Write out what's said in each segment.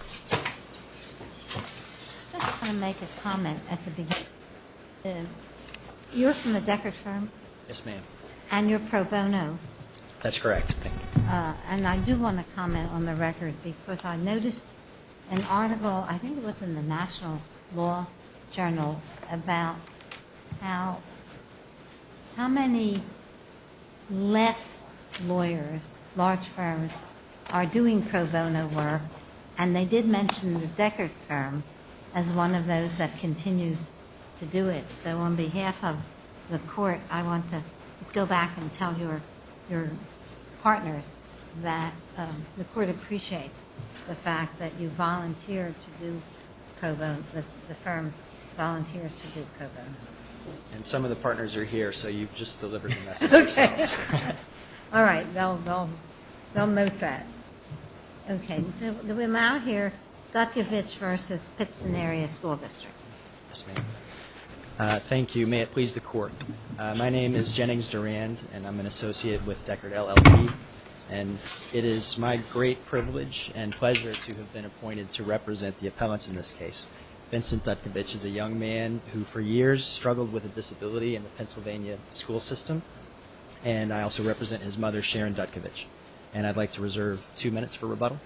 I just want to make a comment at the beginning. You're from the Decker firm? Yes, ma'am. And you're pro bono? That's correct. And I do want to comment on the record because I noticed an article, I think it was in the National Law Journal, about how many less lawyers, large firms, are doing pro bono work. And they did mention the Decker firm as one of those that continues to do it. So on behalf of the court, I want to go back and tell your partners that the court appreciates the fact that you volunteer to do pro bono, that the firm volunteers to do pro bono. And some of the partners are here, so you've just delivered the message yourself. All right. They'll note that. Okay. We'll now hear Dutkevitch v. Pitson Area School District. Thank you. May it please the court. My name is Jennings Durand, and I'm an associate with Deckard LLP, and it is my great privilege and pleasure to have been appointed to represent the appellants in this case. Vincent Dutkevitch is a young man who for years struggled with a disability in the Pennsylvania school system, and I also represent his mother, Sharon Dutkevitch. And I'd like to reserve two minutes for rebuttal.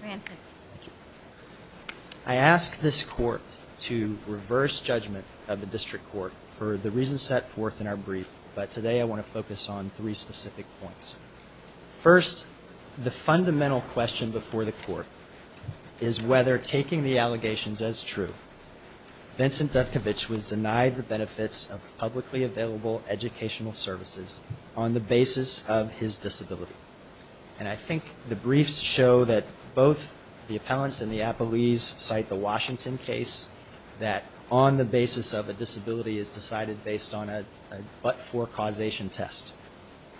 I ask this court to reverse judgment of the district court for the reasons set forth in our brief, but today I want to focus on three specific points. First, the fundamental question before the court is whether taking the allegations as true, Vincent Dutkevitch was denied the benefits of publicly available educational services on the basis of his disability. And I think the briefs show that both the appellants and the appellees cite the Washington case that on the basis of a disability is decided based on a but-for causation test.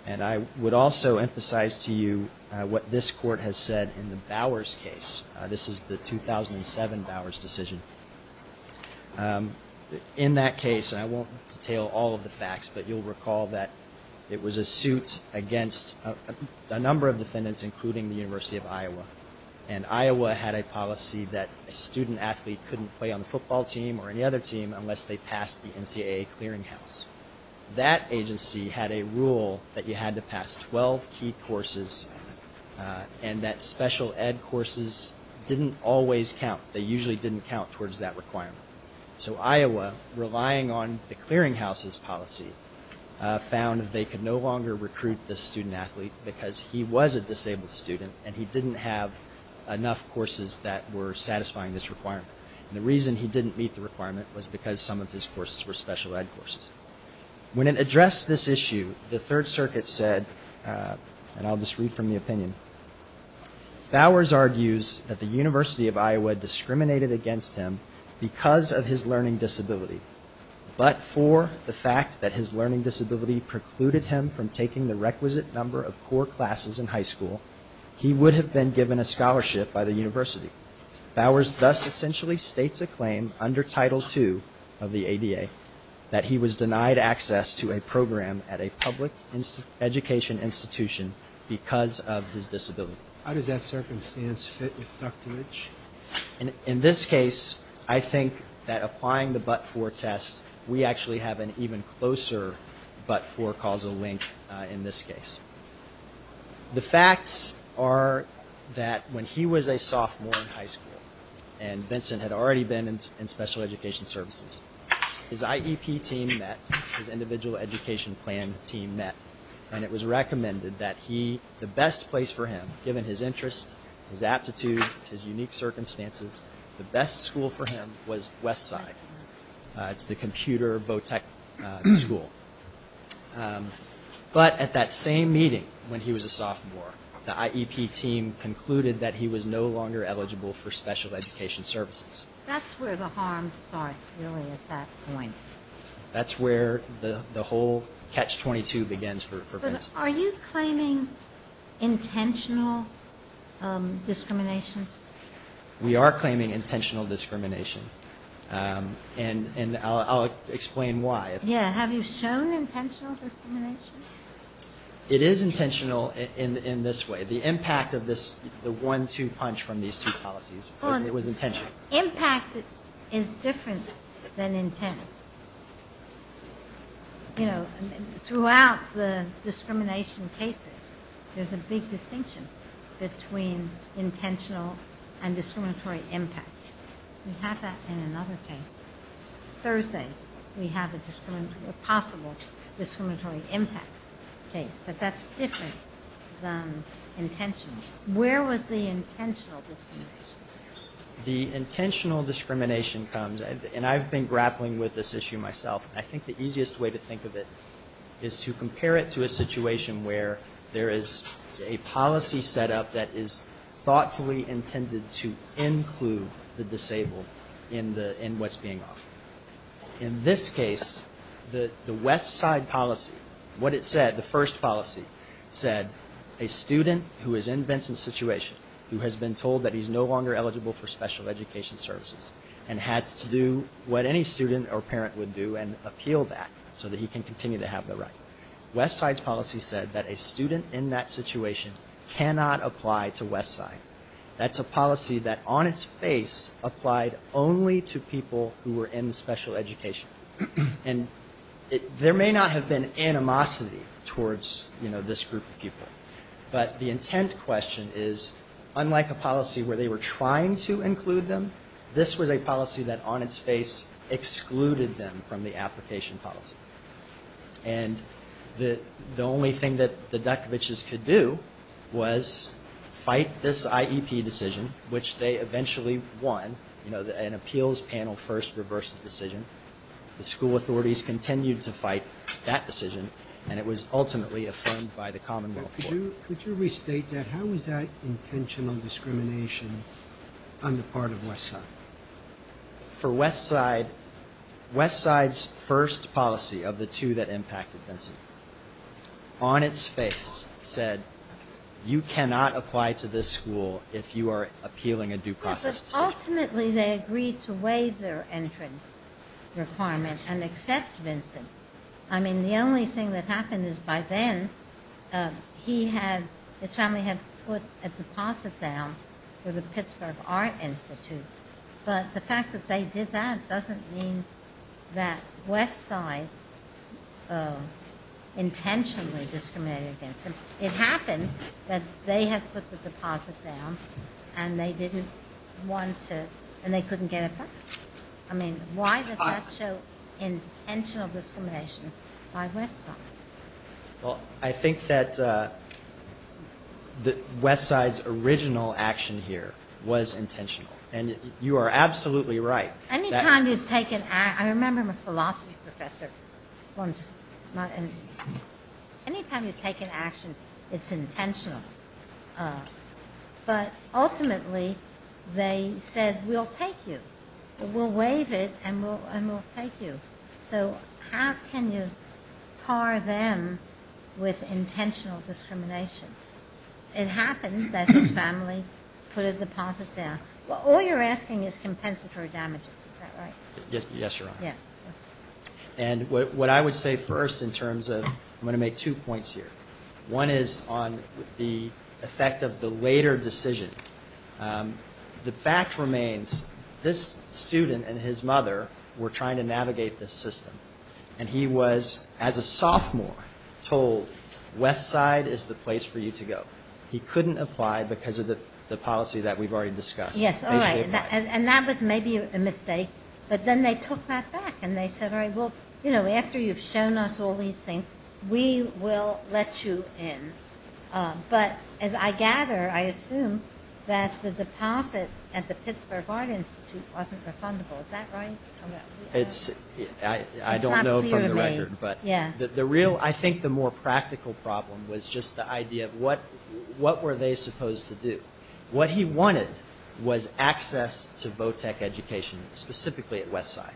And I would also emphasize to you what this court has said in the Bowers case. This is the 2007 Bowers decision. In that case, and I won't detail all of the facts, but you'll recall that it was a suit against a number of defendants, including the University of Iowa. And Iowa had a policy that a student athlete couldn't play on the football team or any other team unless they passed the NCAA clearinghouse. That agency had a rule that you had to pass 12 key courses and that special ed courses didn't always count. They usually didn't count towards that requirement. So Iowa, relying on the clearinghouse's policy, found that they could no longer recruit this student athlete because he was a disabled student and he didn't have enough courses that were satisfying this requirement. And the reason he didn't meet the requirement was because some of his courses were special ed courses. When it addressed this issue, the Third Circuit said, and I'll just read from the opinion, Bowers argues that the University of Iowa discriminated against him because of his learning disability, but for the fact that his learning disability precluded him from taking the requisite number of core classes in high school, he would have been given a scholarship by the university. Bowers thus essentially states a claim under Title II of the ADA that he was denied access to a program at a public education institution because of his disability. How does that circumstance fit with Dr. Lynch? In this case, I think that applying the but-for test, we actually have an even closer but-for causal link in this case. The facts are that when he was a sophomore in high school, and Vincent had already been in special education services, his IEP team met, his individual education plan team met, and it was recommended that he, the best place for him, given his interest, his aptitude, his unique circumstances, the best school for him was Westside. It's the computer Bowtech school. But at that same meeting, when he was a sophomore, the IEP team concluded that he was no longer eligible for special education services. That's where the harm starts, really, at that point. That's where the whole catch-22 begins for Vincent. But are you claiming intentional discrimination? We are claiming intentional discrimination. And I'll explain why. Yeah, have you shown intentional discrimination? It is intentional in this way. The impact of the one-two punch from these two policies says it was intentional. Well, impact is different than intent. Throughout the discrimination cases, there's a big distinction between intentional and intentional. And discriminatory impact. We have that in another case. Thursday, we have a possible discriminatory impact case. But that's different than intentional. Where was the intentional discrimination? The intentional discrimination comes, and I've been grappling with this issue myself. I think the easiest way to think of it is to compare it to a situation where there is a policy set up that is thoughtfully intentional. It's intended to include the disabled in what's being offered. In this case, the Westside policy, what it said, the first policy, said a student who is in Vincent's situation, who has been told that he's no longer eligible for special education services, and has to do what any student or parent would do and appeal that so that he can continue to have the right. Westside's policy said that a student in that situation cannot apply to Westside. This was a policy that on its face applied only to people who were in special education. And there may not have been animosity towards this group of people. But the intent question is, unlike a policy where they were trying to include them, this was a policy that on its face excluded them from the application policy. And the only thing that the Dutkovichs could do was fight this IEP decision. Which they eventually won, an appeals panel first reversed the decision. The school authorities continued to fight that decision, and it was ultimately affirmed by the commonwealth court. Could you restate that? How was that intentional discrimination on the part of Westside? For Westside, Westside's first policy of the two that impacted Vincent, on its face, said, you cannot apply to this school if you are a parent. Ultimately, they agreed to waive their entrance requirement and accept Vincent. I mean, the only thing that happened is by then, he had, his family had put a deposit down for the Pittsburgh Art Institute. But the fact that they did that doesn't mean that Westside intentionally discriminated against him. It happened that they had put the deposit down, and they didn't want to, and they couldn't get it back. I mean, why does that show intentional discrimination by Westside? Well, I think that Westside's original action here was intentional. And you are absolutely right. Any time you take an, I remember a philosophy professor once, any time you take an action, it's intentional. But ultimately, they said, we'll take you. We'll waive it, and we'll take you. So how can you tar them with intentional discrimination? It happened that his family put a deposit down. Yes, Your Honor. And what I would say first in terms of, I'm going to make two points here. One is on the effect of the later decision. The fact remains, this student and his mother were trying to navigate this system. And he was, as a sophomore, told, Westside is the place for you to go. He couldn't apply because of the policy that we've already discussed. But then they took that back, and they said, all right, well, after you've shown us all these things, we will let you in. But as I gather, I assume that the deposit at the Pittsburgh Art Institute wasn't refundable. Is that right? It's, I don't know from the record, but the real, I think the more practical problem was just the idea of what were they supposed to do. What he wanted was access to Vo-Tec education, specifically at Westside.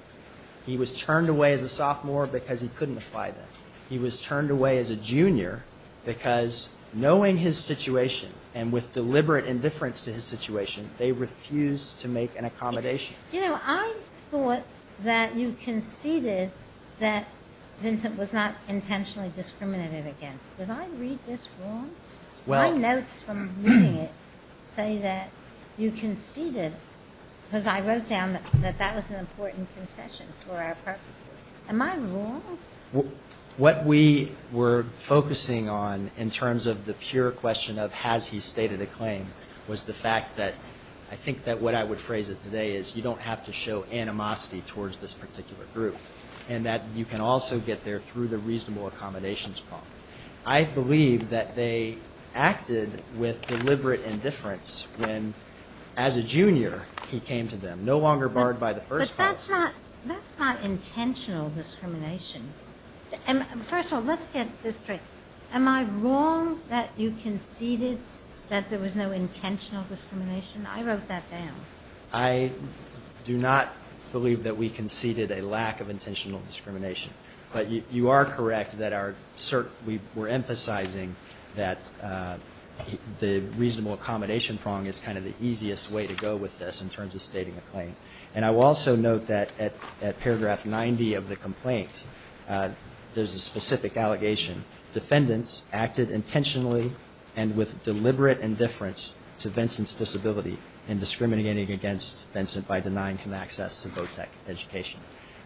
He was turned away as a sophomore because he couldn't apply there. He was turned away as a junior because knowing his situation, and with deliberate indifference to his situation, they refused to make an accommodation. You know, I thought that you conceded that Vincent was not intentionally discriminated against. Did I read this wrong? My notes from reading it say that you conceded, because I wrote down that that was an important concession for our purposes. Am I wrong? What we were focusing on in terms of the pure question of has he stated a claim was the fact that I think that what I would phrase it today is you don't have to show animosity towards this particular group. And that you can also get there through the reasonable accommodations problem. I believe that they acted with deliberate indifference when, as a junior, he came to them, no longer barred by the first clause. But that's not intentional discrimination. First of all, let's get this straight. Am I wrong that you conceded that there was no intentional discrimination? I wrote that down. I do not believe that we conceded a lack of intentional discrimination. But you are correct that we're emphasizing that the reasonable accommodation prong is kind of the easiest way to go with this in terms of stating a claim. And I will also note that at paragraph 90 of the complaint, there's a specific allegation. Defendants acted intentionally and with deliberate indifference to Vincent's disability in discriminating against him. By denying him access to Bowtech education.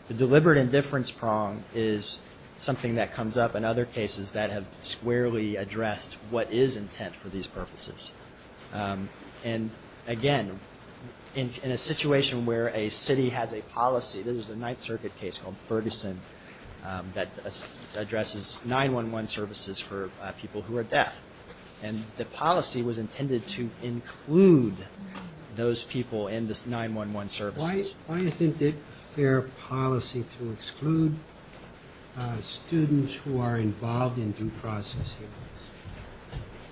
The deliberate indifference prong is something that comes up in other cases that have squarely addressed what is intent for these purposes. And again, in a situation where a city has a policy, there's a Ninth Circuit case called Ferguson that addresses 911 services for people who are deaf. And the policy was intended to include those people in this 911 services. Why isn't it fair policy to exclude students who are involved in due process hearings?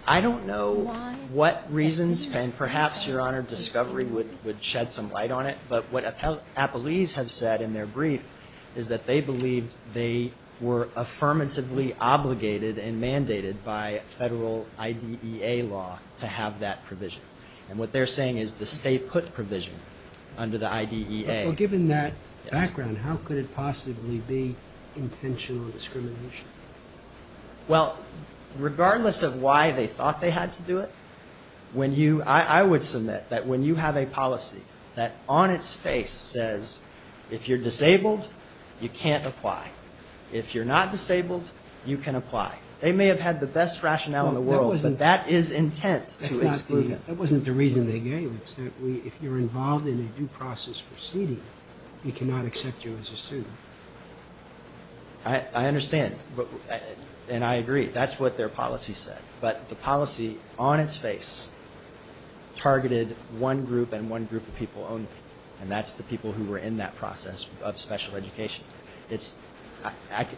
I don't know what reasons, and perhaps, Your Honor, discovery would shed some light on it. But what appellees have said in their brief is that they believed they were affirmatively obligated and mandated by federal law. And what they're saying is the state put provision under the IDEA. Given that background, how could it possibly be intentional discrimination? Well, regardless of why they thought they had to do it, when you, I would submit that when you have a policy that on its face says, if you're disabled, you can't apply. If you're not disabled, you can apply. They may have had the best rationale in the world, but that is intent to exclude them. That wasn't the reason they gave. It's that if you're involved in a due process proceeding, we cannot accept you as a student. I understand. And I agree. That's what their policy said. But the policy on its face targeted one group and one group of people only. And that's the people who were in that process of special education.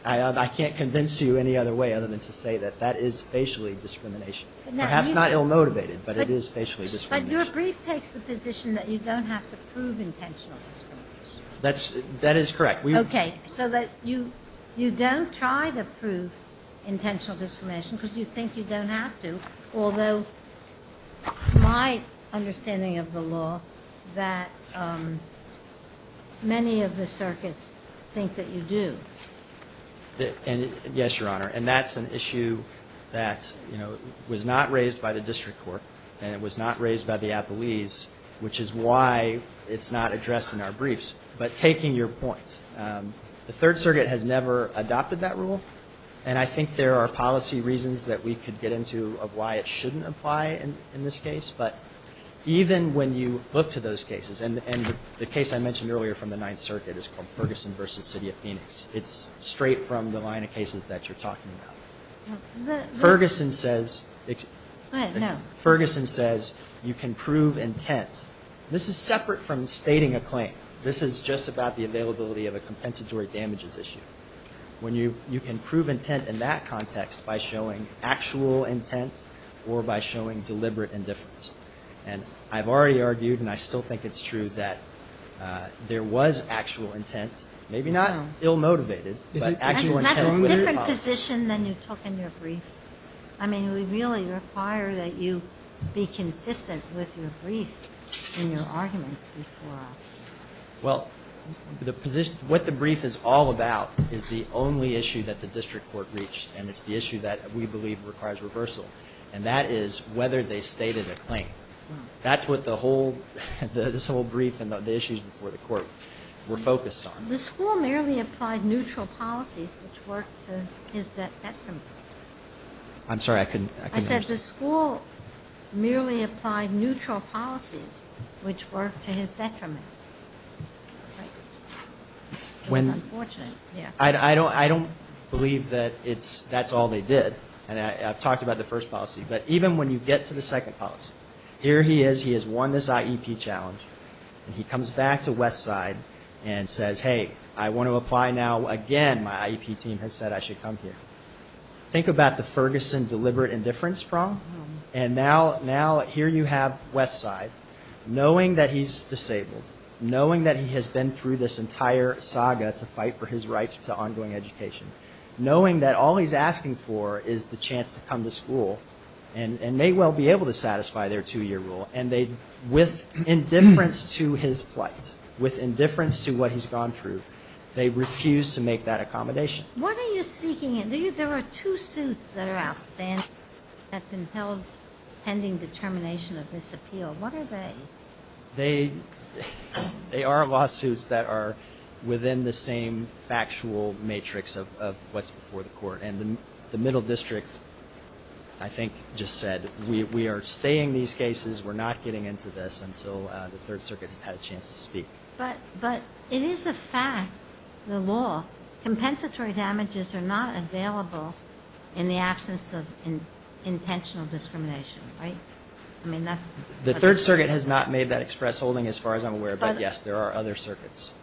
I can't convince you any other way other than to say that that is facially discrimination. Perhaps not ill-motivated, but it is facially discrimination. But your brief takes the position that you don't have to prove intentional discrimination. That is correct. Okay. So that you don't try to prove intentional discrimination because you think you don't have to, although my understanding of the law that many of the circuits think that you do. Yes, Your Honor. And that's an issue that was not raised by the district court and it was not raised by the appellees, which is why it's not addressed in our briefs. But taking your point, the Third Circuit has never adopted that rule. And I think there are policy reasons that we could get into of why it shouldn't apply in this case. But even when you look to those cases, and the case I mentioned earlier from the Ninth Circuit is called Ferguson v. City of Phoenix. It's straight from the line of cases that you're talking about. Ferguson says you can prove intent. This is separate from stating a claim. This is just about the availability of a compensatory damages issue. When you can prove intent in that context by showing actual intent or by showing deliberate indifference. And I've already argued, and I still think it's true, that there was actual intent. Maybe not ill-motivated, but actual intent. That's a different position than you took in your brief. I mean, we really require that you be consistent with your brief and your arguments before us. Well, what the brief is all about is the only issue that the district court reached, and it's the issue that we believe requires reversal. And that is whether they stated a claim. That's what this whole brief and the issues before the court were focused on. The school merely applied neutral policies which worked to his detriment. I'm sorry, I couldn't understand. I don't believe that that's all they did. And I've talked about the first policy. But even when you get to the second policy, here he is, he has won this IEP challenge, and he comes back to Westside and says, hey, I want to apply now again. My IEP team has said I should come here. Think about the Ferguson deliberate indifference problem. And now here you have Westside, knowing that he's disabled, knowing that he has been through this entire saga to fight for his rights to ongoing education, knowing that all he's asking for is the chance to come to school and may well be able to satisfy their two-year rule, and they, with indifference to his plight, with indifference to what he's gone through, with indifference to the fact that he's not going to be able to come to school, he's not going to be able to come to Westside. They refuse to make that accommodation. They are lawsuits that are within the same factual matrix of what's before the court. And the middle district, I think, just said, we are staying these cases, we're not getting into this until the Third Circuit has had a chance to speak. But it is a fact, the law, compensatory damages are not available in the absence of intentional discrimination, right? I mean, that's... The Third Circuit has not made that express holding, as far as I'm aware, but yes, there are other circuits.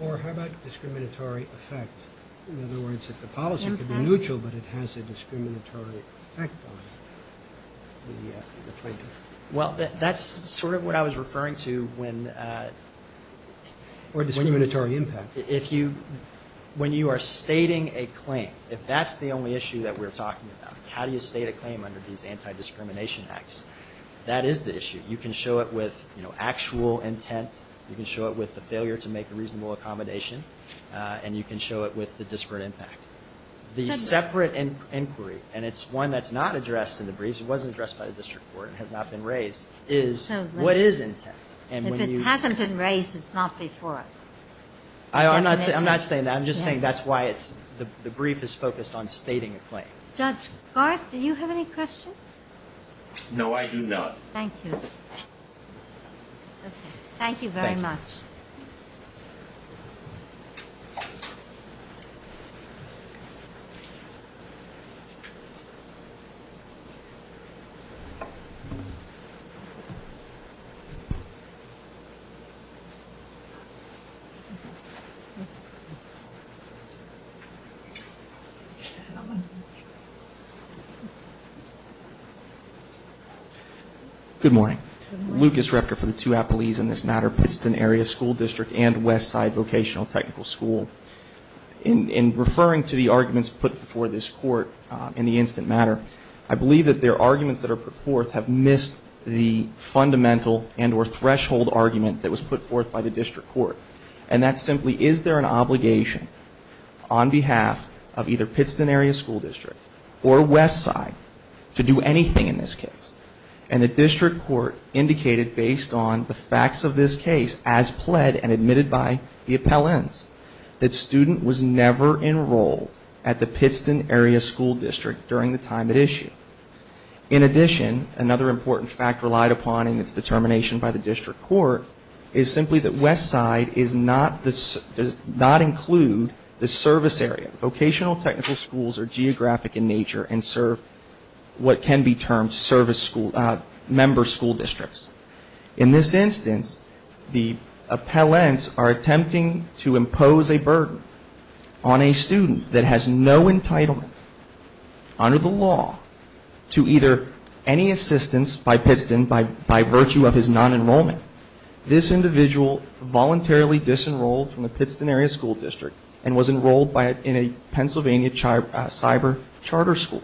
Or how about discriminatory effect? In other words, if the policy could be neutral, but it has a discriminatory effect on the plaintiff? Well, that's sort of what I was referring to when... Or discriminatory impact. When you are stating a claim, if that's the only issue that we're talking about, how do you state a claim under these anti-discrimination acts, that is the issue. You can show it with actual intent, you can show it with the failure to make a reasonable accommodation, and you can show it with the disparate impact. The separate inquiry, and it's one that's not addressed in the briefs, it wasn't addressed by the district court and has not been raised, is what is intent? If it hasn't been raised, it's not before us. I'm not saying that, I'm just saying that's why the brief is focused on stating a claim. Judge Garth, do you have any questions? No, I do not. Thank you. Good morning. Lucas Repka for the two appellees in this matter, Pittston Area School District and Westside Vocational Technical School. In referring to the arguments put before this court in the instant matter, I believe that their arguments that are put forth have missed the fundamental and or threshold argument that was put forth by the district court. And that's simply, is there an obligation on behalf of either Pittston Area School District or Westside to do anything in this case? The district court indicated based on the facts of this case as pled and admitted by the appellants that student was never enrolled at the Pittston Area School District during the time at issue. In addition, another important fact relied upon in its determination by the district court is simply that Westside does not include the service area. Vocational technical schools are geographic in nature and serve what can be termed service school members. In this instance, the appellants are attempting to impose a burden on a student that has no entitlement under the law to either any assistance by Pittston by virtue of his non-enrollment. This individual voluntarily disenrolled from the Pittston Area School District and was enrolled in a Pennsylvania cyber charter school.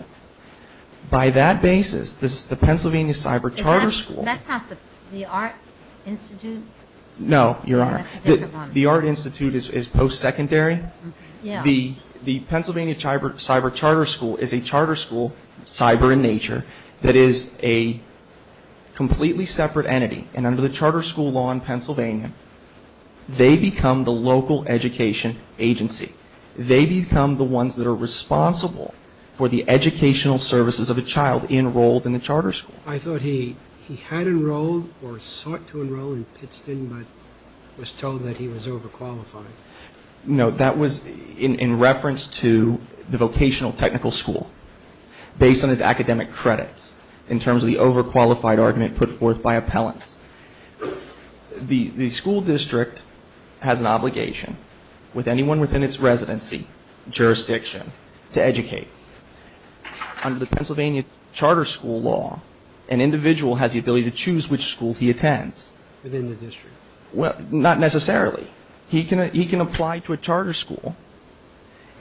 By that basis, the Pennsylvania cyber charter school... That's not the Art Institute? No, Your Honor. The Art Institute is post-secondary. The Pennsylvania cyber charter school is a charter school, cyber in nature, that is a completely separate entity. And under the charter school law in Pennsylvania, they become the local education agency. They become the ones that are responsible for the educational services of a child enrolled in the charter school. I thought he had enrolled or sought to enroll in Pittston, but was told that he was overqualified. No, that was in reference to the vocational technical school. Based on his academic credits in terms of the overqualified argument put forth by appellants. The school district has an obligation with anyone within its residency jurisdiction to educate. Under the Pennsylvania charter school law, an individual has the ability to choose which school he attends. Within the district? Well, not necessarily. He can apply to a charter school,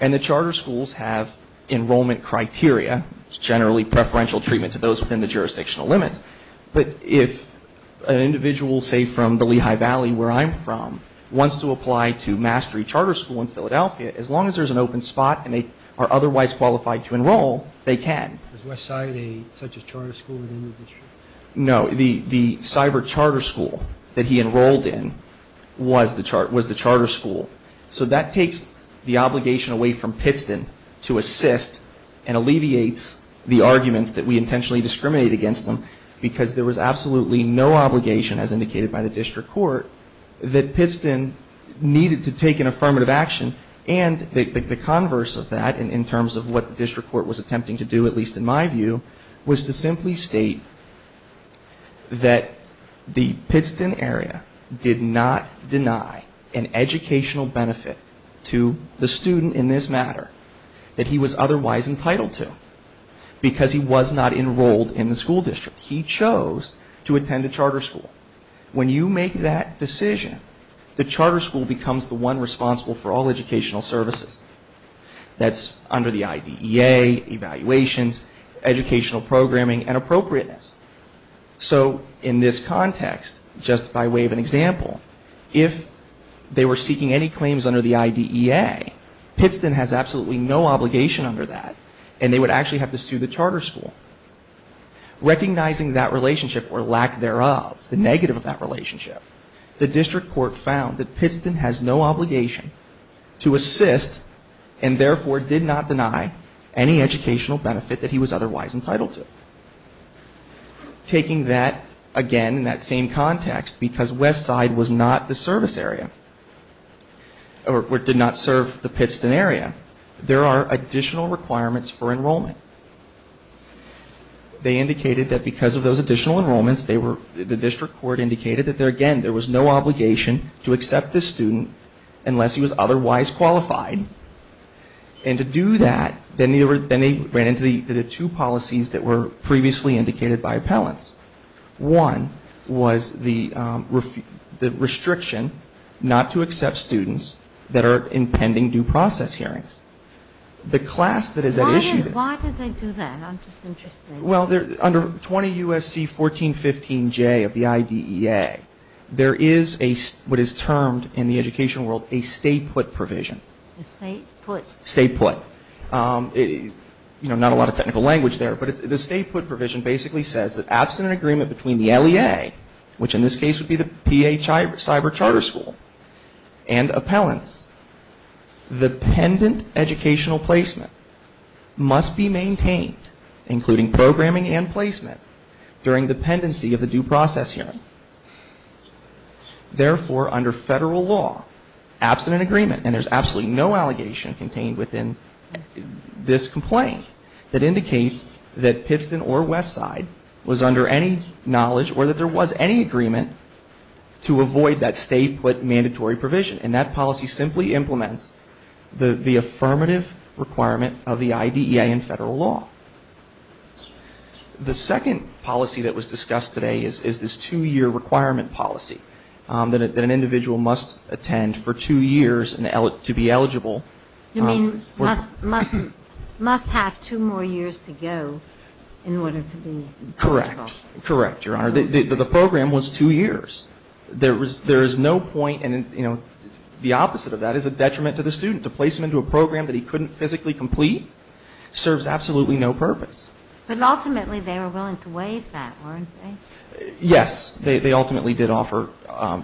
and the charter schools have enrollment criteria, generally preferential treatment to those within the jurisdictional limits. But if an individual, say, from the Lehigh Valley, where I'm from, wants to apply to Mastery Charter School in Philadelphia, as long as there's an open spot and they are otherwise qualified to enroll, they can. Was Westside such a charter school within the district? No, the cyber charter school that he enrolled in was the charter school. So that takes the obligation away from Pittston to assist and alleviates the arguments that we intentionally discriminate against them, because there was absolutely no obligation, as indicated by the district court, that Pittston needed to take an affirmative action, and the converse of that, in terms of what the district court was attempting to do, at least in my view, was to simply state that the Pittston area did not deny an educational opportunity to an individual. To the student, in this matter, that he was otherwise entitled to, because he was not enrolled in the school district. He chose to attend a charter school. When you make that decision, the charter school becomes the one responsible for all educational services. That's under the IDEA, evaluations, educational programming, and appropriateness. So, in this context, just by way of an example, if they were seeking any clearance on the claims under the IDEA, Pittston has absolutely no obligation under that, and they would actually have to sue the charter school. Recognizing that relationship, or lack thereof, the negative of that relationship, the district court found that Pittston has no obligation to assist, and therefore did not deny any educational benefit that he was otherwise entitled to. Taking that, again, in that same context, because Westside was not the service area. Or did not serve the Pittston area. There are additional requirements for enrollment. They indicated that because of those additional enrollments, the district court indicated that, again, there was no obligation to accept this student unless he was otherwise qualified. And to do that, then they ran into the two policies that were previously indicated by appellants. One was the restriction not to accept students that are in pending due process hearings. The class that is at issue. Why did they do that? I'm just interested. Well, under 20 U.S.C. 1415J of the IDEA, there is what is termed in the educational world a stay put provision. Stay put. You know, not a lot of technical language there. But the stay put provision basically says that absent an agreement between the LEA, which in this case would be the P.A. Cyber Charter School, and appellants, the pendent educational placement must be maintained, including programming and placement, during the pendency of the due process hearing. Therefore, under federal law, absent an agreement, and there is absolutely no allegation contained within this complaint that indicates that Pittston or Westside was under any knowledge or that there was any agreement to avoid that stay put mandatory provision. And that policy simply implements the affirmative requirement of the IDEA in federal law. The second policy that was discussed today is this two-year requirement policy that an individual must attend for two years to be eligible. You mean must have two more years to go in order to be eligible? Correct. Correct, Your Honor. The program was two years. There is no point, and the opposite of that is a detriment to the student. To place him into a program that he couldn't physically complete serves absolutely no purpose. But ultimately they were willing to waive that, weren't they? Yes, they ultimately did offer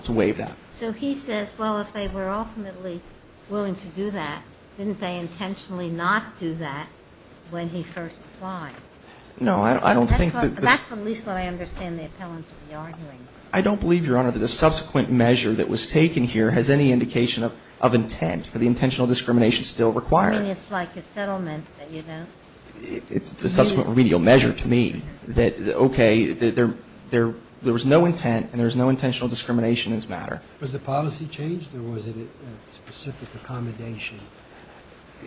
to waive that. So he says, well, if they were ultimately willing to do that, didn't they intentionally not do that when he first applied? No, I don't think that's what I understand the appellant to be arguing. I don't believe, Your Honor, that the subsequent measure that was taken here has any indication of intent for the intentional discrimination still required. I mean, it's like a settlement that you don't use. It's a subsequent remedial measure to me that, okay, there was no intent and there was no intentional discrimination as a matter. Was the policy changed or was it a specific accommodation?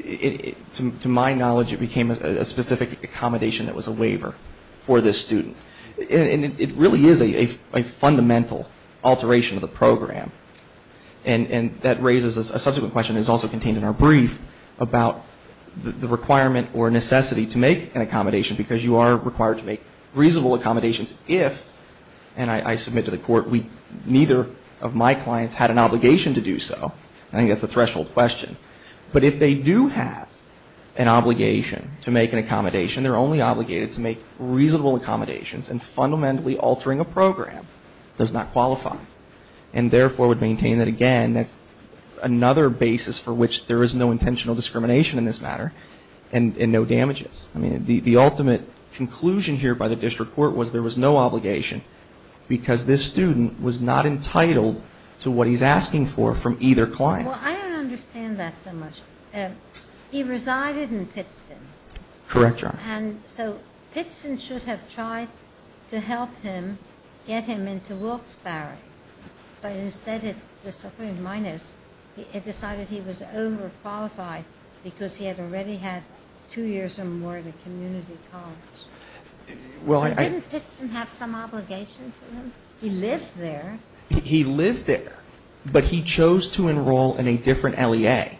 To my knowledge, it became a specific accommodation that was a waiver for this student. And it really is a fundamental alteration of the program. And that raises a subsequent question that's also contained in our brief about the requirement or necessity to make an accommodation because you are required to make reasonable accommodations if, and I submit to the court, neither of my clients had an obligation to do so. I think that's a threshold question. But if they do have an obligation to make an accommodation, they're only obligated to make reasonable accommodations and fundamentally altering a program does not qualify and therefore would maintain that, again, that's another basis for which there is no intentional discrimination in this matter and no damages. I mean, the ultimate conclusion here by the district court was there was no obligation because this student was not entitled to what he's asking for from either client. Well, I don't understand that so much. He resided in Pittston. Correct, Your Honor. And so Pittston should have tried to help him get him into Wilkes-Barre. But instead it, according to my notes, it decided he was overqualified because he had already had two years or more at a community college. So didn't Pittston have some obligation to him? He lived there. He lived there. But he chose to enroll in a different LEA.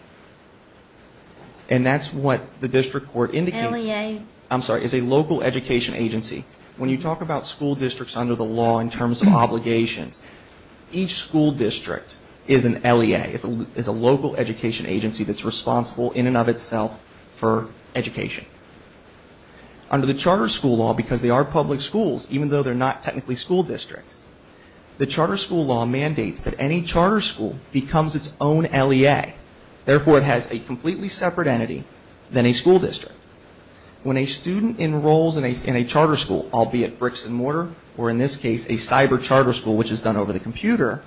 And that's what the district court indicates. LEA. I'm sorry. It's a local education agency. When you talk about school districts under the law in terms of obligations, each school district is an LEA. It's a local education agency that's responsible in and of itself for education. Under the charter school law, because they are public schools even though they're not technically school districts, the charter school law mandates that any therefore it has a completely separate entity than a school district. When a student enrolls in a charter school, albeit bricks and mortar, or in this case a cyber charter school which is done over the computer,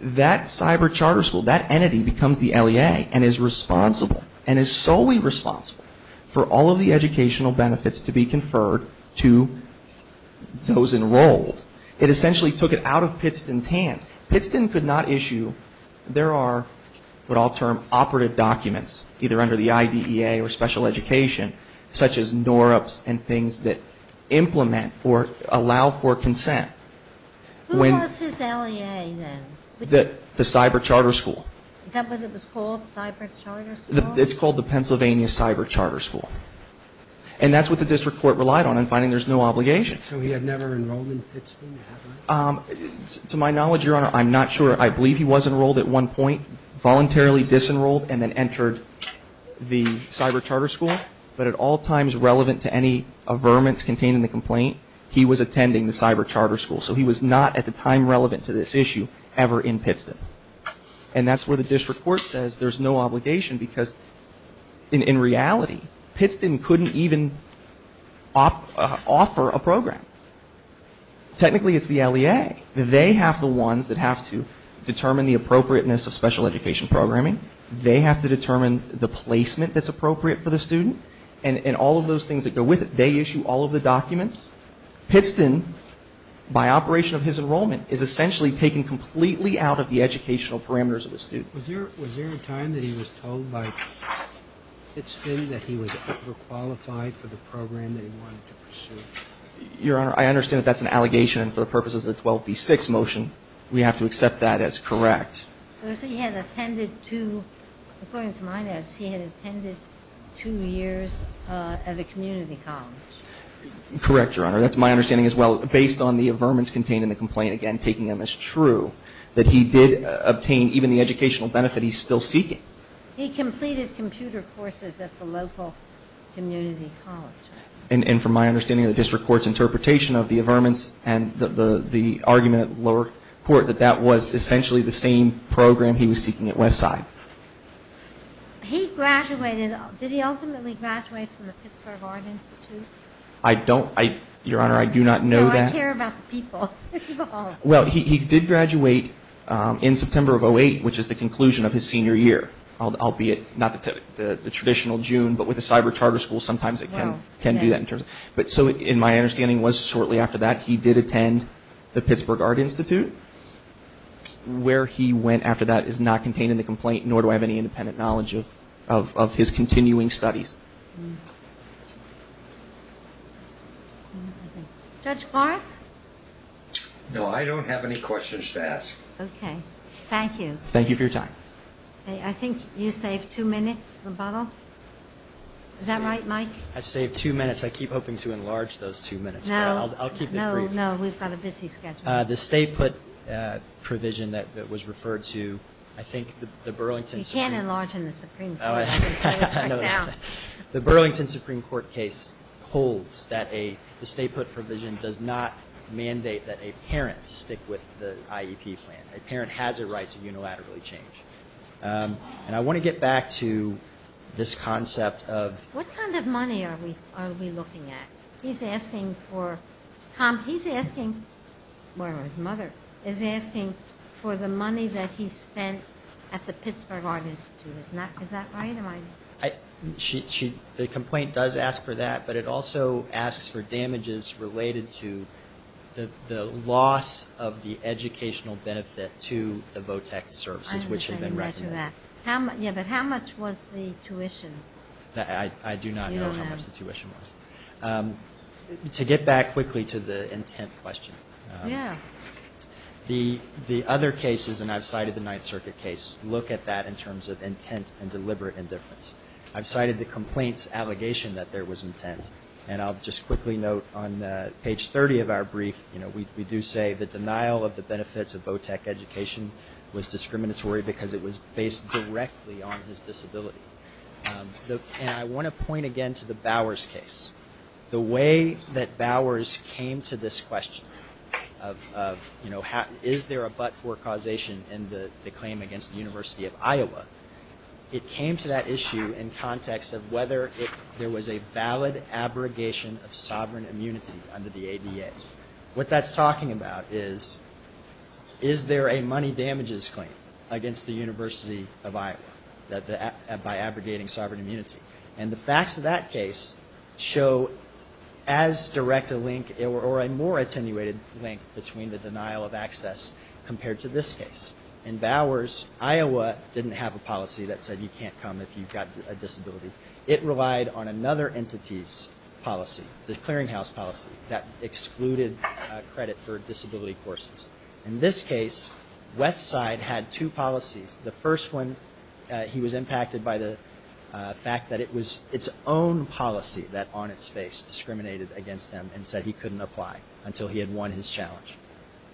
that cyber charter school, that entity becomes the LEA and is responsible and is solely responsible for all of the educational benefits to be conferred to those enrolled. It essentially took it out of Pittston's hands. Pittston could not issue, there are what I'll term operative documents, either under the IDEA or special education, such as NORUPS and things that implement or allow for consent. Who was his LEA then? The cyber charter school. Is that what it was called, cyber charter school? It's called the Pennsylvania Cyber Charter School. And that's what the district court relied on in finding there's no obligation. So he had never enrolled in Pittston? To my knowledge, Your Honor, I'm not sure. I believe he was enrolled at one point, voluntarily disenrolled, and then entered the cyber charter school. But at all times relevant to any averments contained in the complaint, he was attending the cyber charter school. So he was not at the time relevant to this issue ever in Pittston. And that's where the district court says there's no obligation because in reality, Pittston couldn't even offer a program. Technically, it's the LEA. They have the ones that have to determine the appropriateness of special education programming. They have to determine the placement that's appropriate for the student. And all of those things that go with it, they issue all of the documents. Pittston, by operation of his enrollment, is essentially taken completely out of the educational parameters of the student. Was there a time that he was told by Pittston that he was overqualified for the program that he wanted to pursue? Your Honor, I understand that that's an allegation. And for the purposes of the 12B6 motion, we have to accept that as correct. He had attended two, according to my notes, he had attended two years at a community college. Correct, Your Honor. That's my understanding as well. Based on the averments contained in the complaint, again, taking them as true, that he did obtain even the educational benefit he's still seeking. He completed computer courses at the local community college. And from my understanding of the district court's interpretation of the averments and the argument at the lower court, that that was essentially the same program he was seeking at Westside. He graduated, did he ultimately graduate from the Pittsburgh Art Institute? I don't, Your Honor, I do not know that. No, I care about the people involved. Well, he did graduate in September of 2008, which is the conclusion of his senior year. Albeit not the traditional June, but with the cyber charter school, sometimes it can do that. So in my understanding, it was shortly after that he did attend the Pittsburgh Art Institute. Where he went after that is not contained in the complaint, nor do I have any independent knowledge of his continuing studies. Judge Barth? No, I don't have any questions to ask. Okay. Thank you. Thank you for your time. I think you saved two minutes, Rebuttal. Is that right, Mike? I saved two minutes. I keep hoping to enlarge those two minutes, but I'll keep it brief. No, no, we've got a busy schedule. The stay put provision that was referred to, I think the Burlington Supreme Court You can't enlarge in the Supreme Court. The Burlington Supreme Court case holds that the stay put provision does not mandate that a parent stick with the IEP plan. A parent has a right to unilaterally change. And I want to get back to this concept of What kind of money are we looking at? He's asking for, Tom, he's asking, or his mother, is asking for the money that he spent at the Pittsburgh Art Institute. Is that right? The complaint does ask for that, but it also asks for damages related to the loss of the educational benefit to the VOTEC services which have been recommended. Yeah, but how much was the tuition? I do not know how much the tuition was. To get back quickly to the intent question. Yeah. The other cases, and I've cited the Ninth Circuit case, look at that in terms of intent and deliberate indifference. I've cited the complaint's allegation that there was intent. And I'll just quickly note on page 30 of our brief, we do say the denial of the benefits of VOTEC education was discriminatory because it was based directly on his disability. And I want to point again to the Bowers case. The way that Bowers came to this question of, you know, is there a but-for causation in the claim against the University of Iowa, it came to that issue in context of whether there was a valid abrogation of sovereign immunity under the ADA. What that's talking about is, is there a money damages claim against the University of Iowa by abrogating sovereign immunity? And the facts of that case show as direct a link, or a more attenuated link between the denial of access compared to this case. In Bowers, Iowa didn't have a policy that said you can't come if you've got a disability. It relied on another entity's policy, the clearinghouse policy, that excluded credit for disability courses. In this case, West Side had two policies. The first one, he was impacted by the fact that it was its own policy that on its face discriminated against him and said he couldn't apply until he had won his challenge.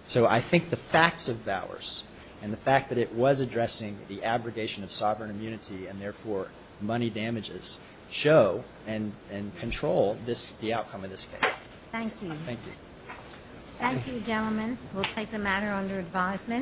So I think the facts of Bowers, and the fact that it was addressing the abrogation of sovereign immunity and therefore money damages, show and control the outcome of this case. Thank you. Thank you. Thank you, gentlemen. We'll take the matter under advisement.